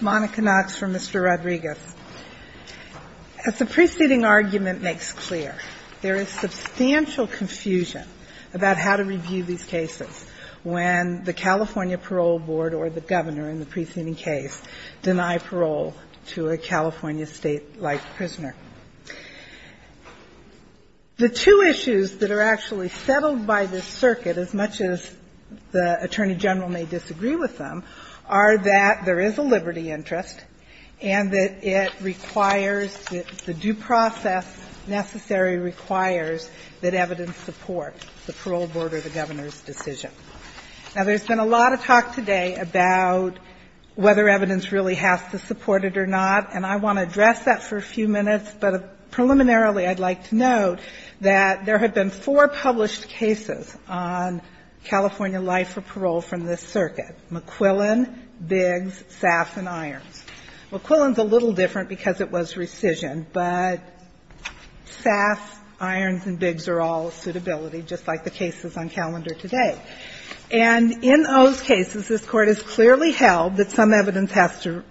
Monica Knox for Mr. Rodriguez. As the preceding argument makes clear, there is substantial confusion about how to review these cases when the California Parole Board or the governor in the preceding case deny parole to a California State-like prisoner. The two issues that are actually settled by this circuit, as much as the Attorney General may disagree with them, are that there is a liberty interest and that it requires that the due process necessary requires that evidence support the parole board or the governor's decision. Now, there's been a lot of talk today about whether evidence really has to support it or not, and I want to address that for a few minutes but preliminarily I'd like to note that there have been four published cases on California life for parole from this circuit, McQuillan, Biggs, Sass and Irons. McQuillan's a little different because it was rescission, but Sass, Irons and Biggs are all suitability, just like the cases on calendar today. And in those cases, this Court has clearly held that some evidence has to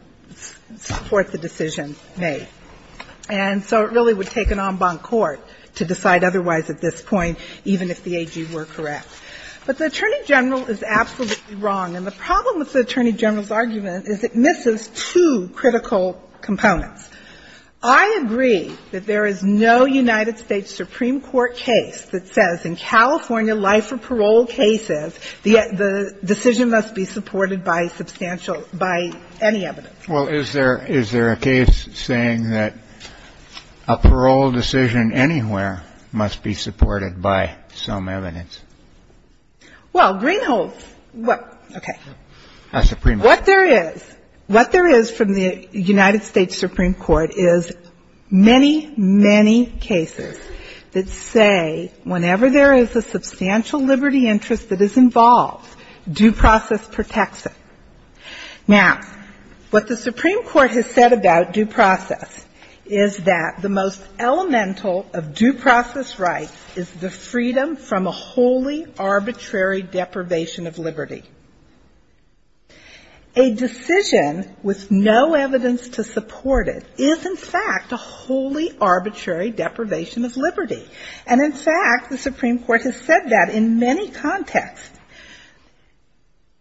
support the decision made. And so it really would take an en banc court to decide otherwise at this point, even if the AG were correct. But the Attorney General is absolutely wrong, and the problem with the Attorney General's argument is it misses two critical components. I agree that there is no United States Supreme Court case that says in California life for parole cases, the decision must be supported by substantial, by any evidence. Kennedy. Well, is there a case saying that a parole decision anywhere must be supported by some evidence? McQuillan. Well, Greenhold's, what, okay. Kennedy. A Supreme Court. McQuillan. What there is, what there is from the United States Supreme Court is many, many cases that say whenever there is a substantial liberty interest that is involved, due process protects it. Now, what the Supreme Court has said about due process is that the most elemental of due process rights is the freedom from a wholly arbitrary deprivation of liberty. A decision with no evidence to support it is, in fact, a wholly arbitrary deprivation of liberty. And in fact, the Supreme Court has said that in many contexts.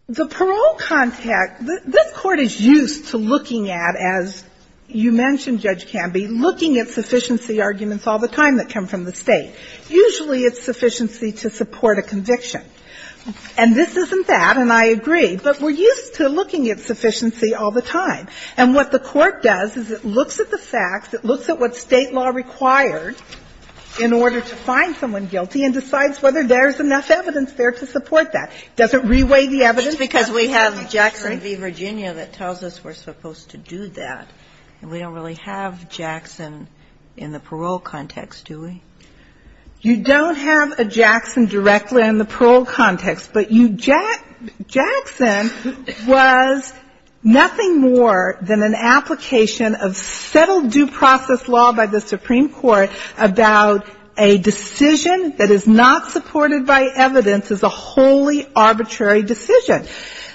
The parole context this Court is used to looking at, as you mentioned, Judge Canby, looking at sufficiency arguments all the time that come from the State. Usually it's sufficiency to support a conviction. And this isn't that, and I agree, but we're used to looking at sufficiency all the time. And what the Court does is it looks at the facts, it looks at what State law required in order to find someone guilty and decides whether there's enough evidence there to support that. Doesn't reweigh the evidence. Kagan. It's because we have Jackson v. Virginia that tells us we're supposed to do that, and we don't really have Jackson in the parole context, do we? You don't have a Jackson directly in the parole context, but you Jack – Jackson was nothing more than an application of settled due process law by the Supreme Court about a decision that is not supported by evidence as a wholly arbitrary decision.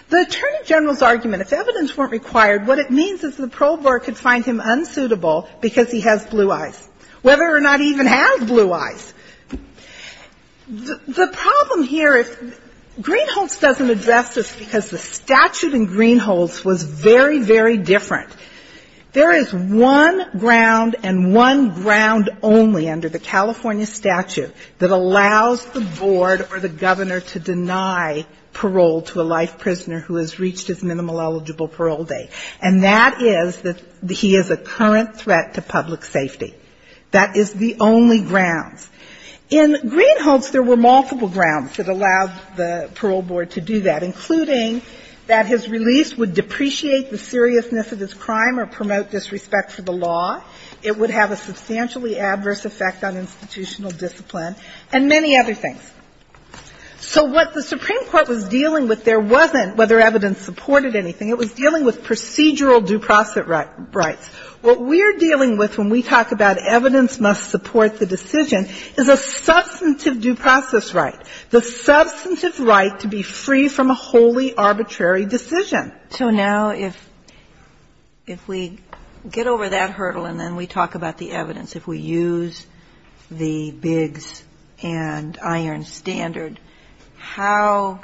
The Attorney General's argument, if evidence weren't required, what it means is the parole board could find him unsuitable because he has blue eyes, whether or not he even has blue eyes. The problem here, Greenholts doesn't address this because the statute in Greenholts was very, very different. There is one ground and one ground only under the California statute that allows the board or the governor to deny parole to a life prisoner who has reached his minimal eligible parole date, and that is that he is a current threat to public safety. That is the only grounds. In Greenholts, there were multiple grounds that allowed the parole board to do that, including that his release would depreciate the seriousness of his crime or promote disrespect for the law, it would have a substantially adverse effect on institutional discipline, and many other things. So what the Supreme Court was dealing with, there wasn't whether evidence supported anything. It was dealing with procedural due process rights. What we're dealing with when we talk about evidence must support the decision is a substantive due process right, the substantive right to be free from a wholly arbitrary decision. Ginsburg. So now if we get over that hurdle and then we talk about the evidence, if we use the Biggs and Irons standard, how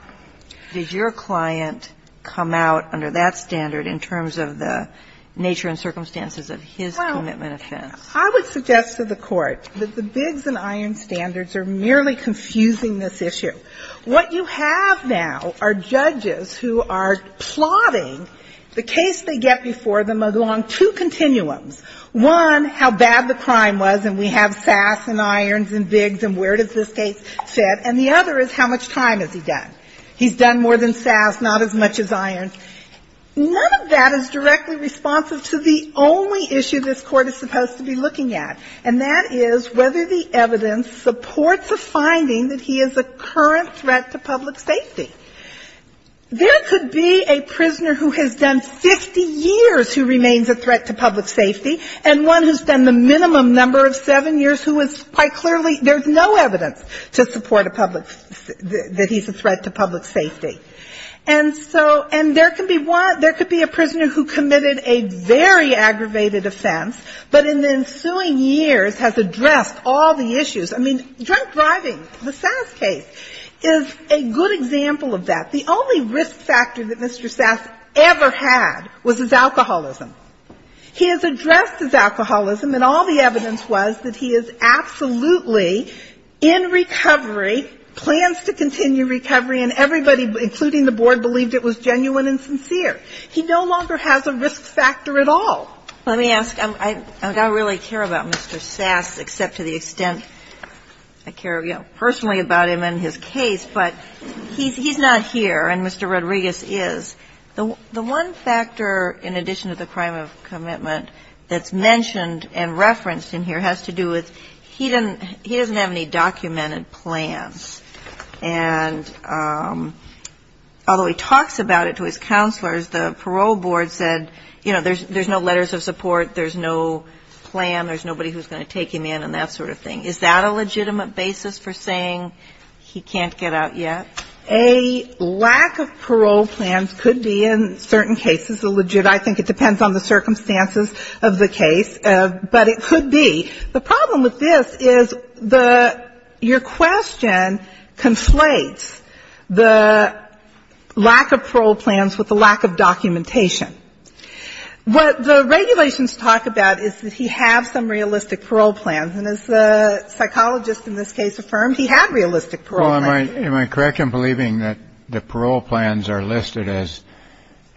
does your client come out under that standard in terms of the nature and circumstances of his commitment offense? Well, I would suggest to the Court that the Biggs and Irons standards are merely confusing this issue. What you have now are judges who are plotting the case they have SAS and Irons and Biggs and where does this case fit, and the other is how much time has he done. He's done more than SAS, not as much as Irons. None of that is directly responsive to the only issue this Court is supposed to be looking at, and that is whether the evidence supports a finding that he is a current threat to public safety. There could be a prisoner who has done 50 years who remains a threat to public safety, and one who's done the minimum number of seven years who is quite clearly there's no evidence to support a public, that he's a threat to public safety. And so, and there can be one, there could be a prisoner who committed a very aggravated offense, but in the ensuing years has addressed all the issues. I mean, drunk driving, the SAS case, is a good example of that. The only risk factor that Mr. SAS ever had was his alcoholism. He has addressed his alcoholism, and all the evidence was that he is absolutely in recovery, plans to continue recovery, and everybody, including the Board, believed it was genuine and sincere. He no longer has a risk factor at all. Let me ask. I don't really care about Mr. SAS, except to the extent I care, you know, personally about him and his case, but he's not here, and Mr. Rodriguez is. The one factor, in addition to the crime of commitment, that's mentioned and referenced in here has to do with he doesn't have any documented plans. And although he talks about it to his counselors, the parole board said, you know, there's no letters of support, there's no plan, there's nobody who's going to take him in and that sort of thing. Is that a legitimate basis for saying he can't get out yet? A lack of parole plans could be, in certain cases, a legitimate. I think it depends on the circumstances of the case, but it could be. The problem with this is the ‑‑ your question conflates the lack of parole plans with the lack of documentation. What the regulations talk about is that he has some realistic parole plans, and as the psychologist in this case affirmed, he had realistic parole plans. Well, am I correct in believing that the parole plans are listed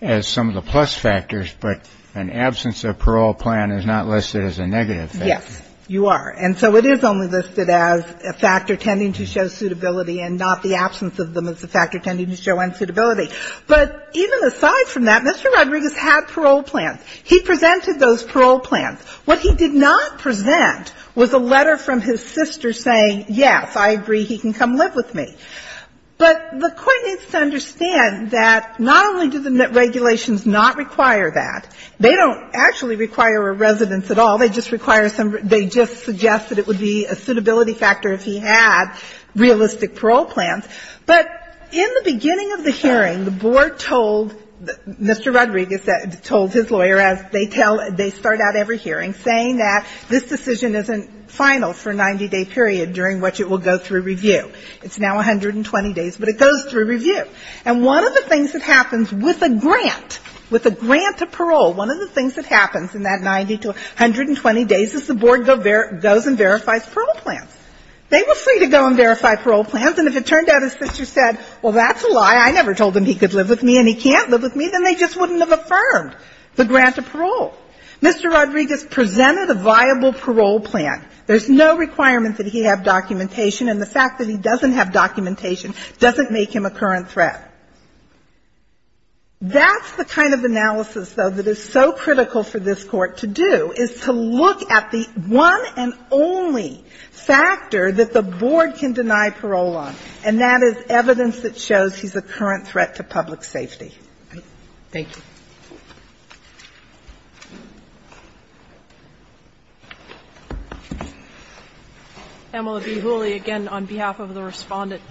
as some of the plus factors, but an absence of parole plan is not listed as a negative factor? Yes, you are. And so it is only listed as a factor tending to show suitability and not the absence of them as a factor tending to show unsuitability. But even aside from that, Mr. Rodriguez had parole plans. He presented those parole plans. What he did not present was a letter from his sister saying, yes, I agree, he can come live with me. But the Court needs to understand that not only do the regulations not require that, they don't actually require a residence at all. They just require some ‑‑ they just suggest that it would be a suitability factor if he had realistic parole plans. But in the beginning of the hearing, the Board told Mr. Rodriguez, told his lawyer as they tell ‑‑ they start out every hearing saying that this decision isn't final for a 90‑day period during which it will go through review. It's now 120 days, but it goes through review. And one of the things that happens with a grant, with a grant to parole, one of the things that happens in that 90 to 120 days is the Board goes and verifies parole plans. They were free to go and verify parole plans. And if it turned out his sister said, well, that's a lie, I never told him he could live with me and he can't live with me, then they just wouldn't have affirmed the grant of parole. Mr. Rodriguez presented a viable parole plan. There's no requirement that he have documentation, and the fact that he doesn't have documentation doesn't make him a current threat. That's the kind of analysis, though, that is so critical for this Court to do, is to provide evidence that shows he's a current threat to public safety. Thank you. Emila V. Hooley, again, on behalf of the Respondent.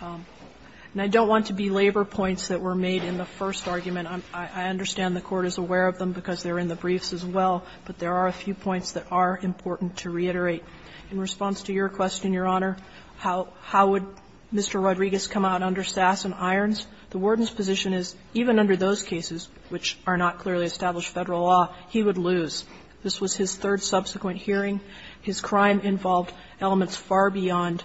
And I don't want to be labor points that were made in the first argument. I understand the Court is aware of them because they're in the briefs as well, but there are a few points that are important to reiterate. In response to your question, Your Honor, how would Mr. Rodriguez come out under Sass and Irons? The warden's position is even under those cases, which are not clearly established Federal law, he would lose. This was his third subsequent hearing. His crime involved elements far beyond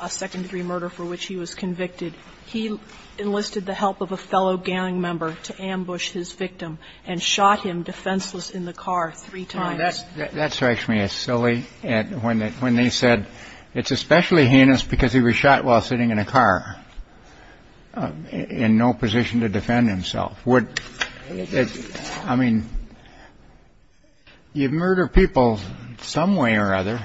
a second degree murder for which he was convicted. He enlisted the help of a fellow gang member to ambush his victim and shot him defenseless in the car three times. That strikes me as silly, when they said it's especially heinous because he was shot while sitting in a car, in no position to defend himself. Would you murder people some way or other,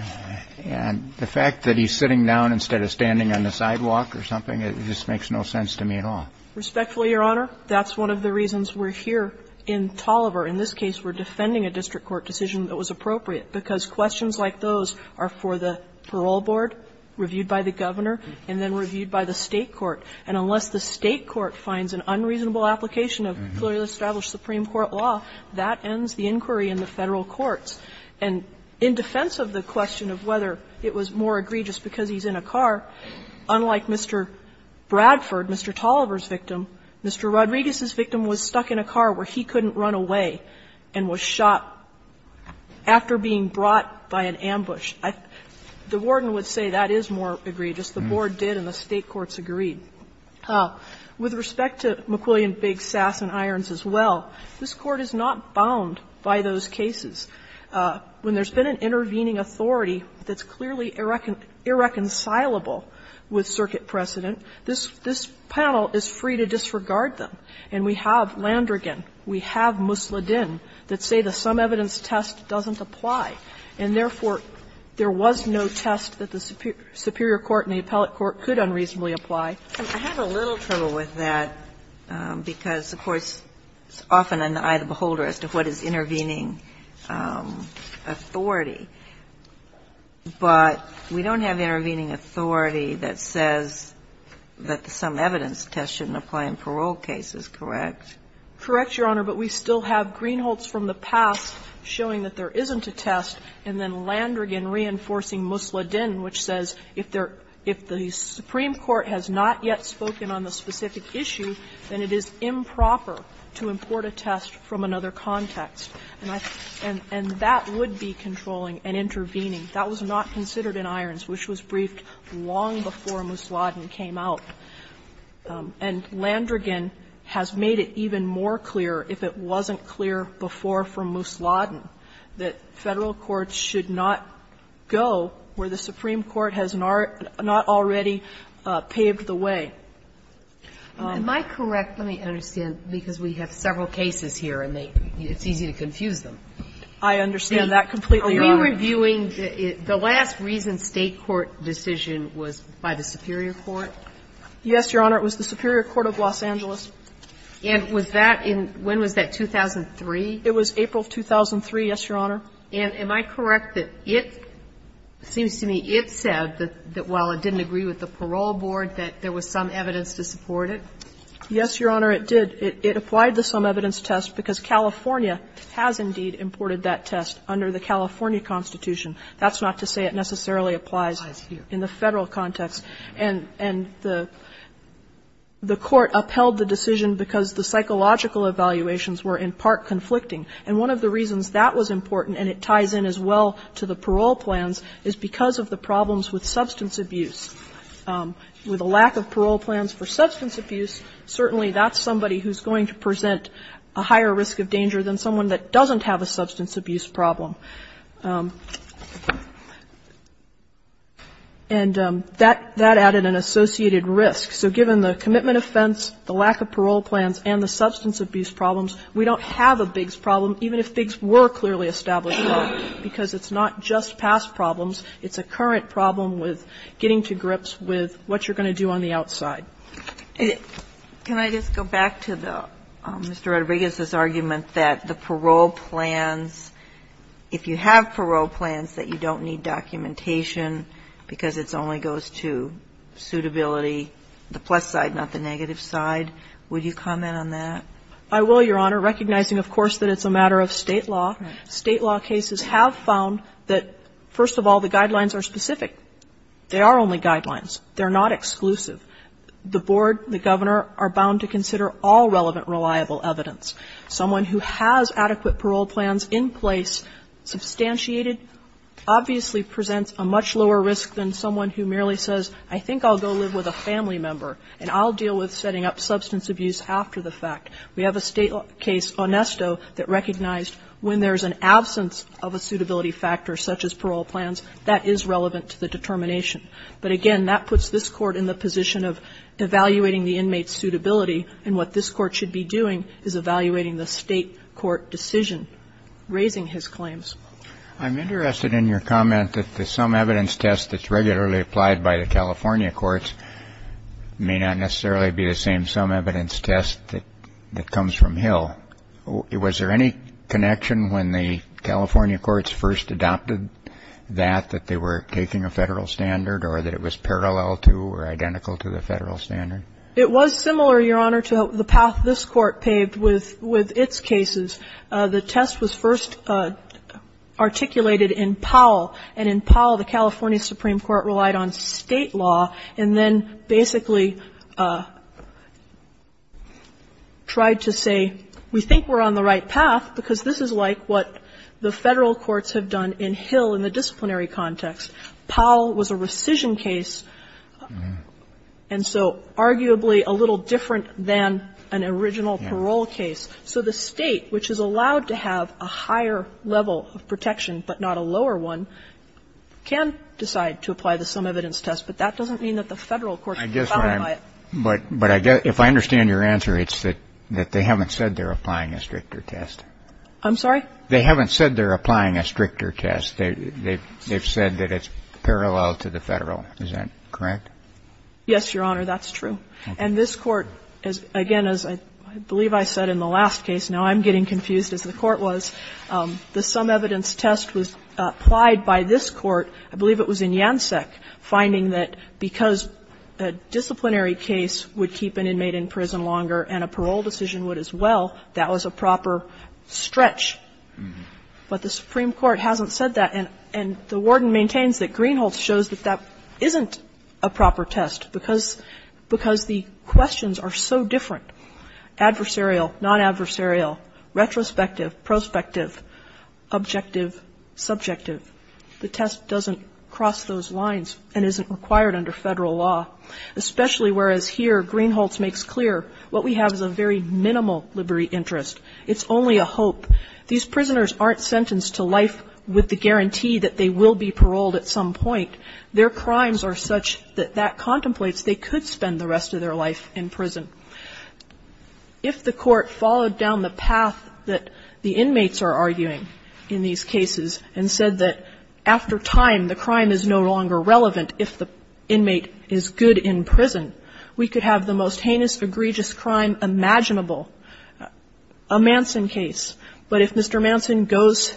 and the fact that he's sitting down instead of standing on the sidewalk or something, it just makes no sense to me at all? Respectfully, Your Honor, that's one of the reasons we're here in Tolliver. In this case, we're defending a district court decision that was appropriate, because questions like those are for the parole board, reviewed by the governor, and then reviewed by the State court. And unless the State court finds an unreasonable application of clearly established Supreme Court law, that ends the inquiry in the Federal courts. And in defense of the question of whether it was more egregious because he's in a car, unlike Mr. Bradford, Mr. Tolliver's victim, Mr. Rodriguez's victim was stuck in a car where he couldn't run away and was shot after being brought by an ambush. The warden would say that is more egregious. The board did, and the State courts agreed. With respect to McWilliam, Biggs, Sass and Irons as well, this Court is not bound by those cases. When there's been an intervening authority that's clearly irreconcilable with circuit precedent, this panel is free to disregard them. And we have Landrigan, we have Musladin that say the sum evidence test doesn't apply, and therefore, there was no test that the superior court and the appellate court could unreasonably apply. And I have a little trouble with that, because the Court's often an eye of the beholder as to what is intervening authority. But we don't have intervening authority that says that the sum evidence test shouldn't apply in parole cases, correct? Correct, Your Honor, but we still have Greenholtz from the past showing that there isn't a test, and then Landrigan reinforcing Musladin, which says if there – if the supreme court has not yet spoken on the specific issue, then it is improper to import a test from another context. And I – and that would be controlling and intervening. That was not considered in Irons, which was briefed long before Musladin came out. And Landrigan has made it even more clear, if it wasn't clear before from Musladin, that Federal courts should not go where the supreme court has not already paved the way. Am I correct? Let me understand, because we have several cases here, and they – it's easy to confuse them. I understand that completely, Your Honor. Are we reviewing the last reason State court decision was by the superior court? Yes, Your Honor. It was the superior court of Los Angeles. And was that in – when was that, 2003? It was April of 2003, yes, Your Honor. And am I correct that it – it seems to me it said that while it didn't agree with the parole board, that there was some evidence to support it? Yes, Your Honor, it did. It applied the some evidence test because California has indeed imported that test under the California Constitution. That's not to say it necessarily applies in the Federal context. And the court upheld the decision because the psychological evaluations were in part conflicting. And one of the reasons that was important, and it ties in as well to the parole plans, is because of the problems with substance abuse. With a lack of parole plans for substance abuse, certainly that's somebody who's going to present a higher risk of danger than someone that doesn't have a substance abuse problem. And that added an associated risk. So given the commitment offense, the lack of parole plans, and the substance abuse problems, we don't have a bigs problem, even if bigs were clearly established law, because it's not just past problems. It's a current problem with getting to grips with what you're going to do on the outside. And can I just go back to the – Mr. Rodriguez's argument that the parole plans – if you have parole plans, that you don't need documentation because it only goes to suitability, the plus side, not the negative side. Would you comment on that? I will, Your Honor, recognizing, of course, that it's a matter of State law. State law cases have found that, first of all, the guidelines are specific. They are only guidelines. They're not exclusive. The Board, the Governor, are bound to consider all relevant, reliable evidence. Someone who has adequate parole plans in place, substantiated, obviously presents a much lower risk than someone who merely says, I think I'll go live with a family member, and I'll deal with setting up substance abuse after the fact. We have a State case, Onesto, that recognized when there's an absence of a suitability factor, such as parole plans, that is relevant to the determination. But again, that puts this Court in the position of evaluating the inmate's suitability, and what this Court should be doing is evaluating the State court decision, raising his claims. I'm interested in your comment that the sum evidence test that's regularly applied by the California courts may not necessarily be the same sum evidence test that comes from Hill. Was there any connection when the California courts first adopted that, that they were taking a Federal standard, or that it was parallel to or identical to the Federal standard? It was similar, Your Honor, to the path this Court paved with its cases. The test was first articulated in Powell, and in Powell, the California Supreme Court relied on State law and then basically tried to say, we think we're on the right path, because this is like what the Federal courts have done in Hill in the disciplinary context. Powell was a rescission case, and so arguably a little different than an original parole case. So the State, which is allowed to have a higher level of protection but not a lower one, can decide to apply the sum evidence test. But that doesn't mean that the Federal courts can't apply it. But I guess if I understand your answer, it's that they haven't said they're applying a stricter test. I'm sorry? They haven't said they're applying a stricter test. They've said that it's parallel to the Federal. Is that correct? Yes, Your Honor, that's true. And this Court, again, as I believe I said in the last case, now I'm getting confused as the Court was, the sum evidence test was applied by this Court, I believe it was in Janssek, finding that because a disciplinary case would keep an inmate in prison longer and a parole decision would as well, that was a proper stretch. But the Supreme Court hasn't said that, and the Warden maintains that Greenholtz shows that that isn't a proper test because the questions are so different, adversarial, non-adversarial, retrospective, prospective, objective, subjective. The test doesn't cross those lines and isn't required under Federal law, especially whereas here Greenholtz makes clear what we have is a very minimal liberty interest. It's only a hope. These prisoners aren't sentenced to life with the guarantee that they will be paroled at some point. Their crimes are such that that contemplates they could spend the rest of their life in prison. If the Court followed down the path that the inmates are arguing in these cases and said that after time the crime is no longer relevant if the inmate is good in prison, we could have the most heinous, egregious crime imaginable. A Manson case, but if Mr. Manson goes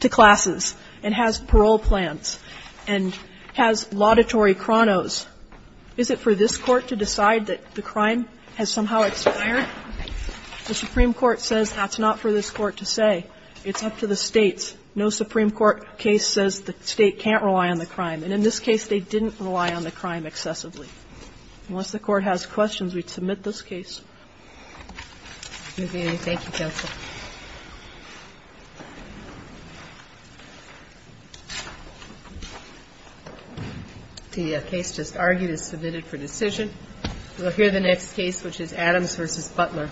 to classes and has parole plans and has laudatory chronos, is it for this Court to decide that the crime has somehow expired? The Supreme Court says that's not for this Court to say. It's up to the States. No Supreme Court case says the State can't rely on the crime. And in this case, they didn't rely on the crime excessively. Unless the Court has questions, we'd submit this case. Thank you, Counsel. The case just argued is submitted for decision. We'll hear the next case, which is Adams v. Butler. Thank you. Thank you.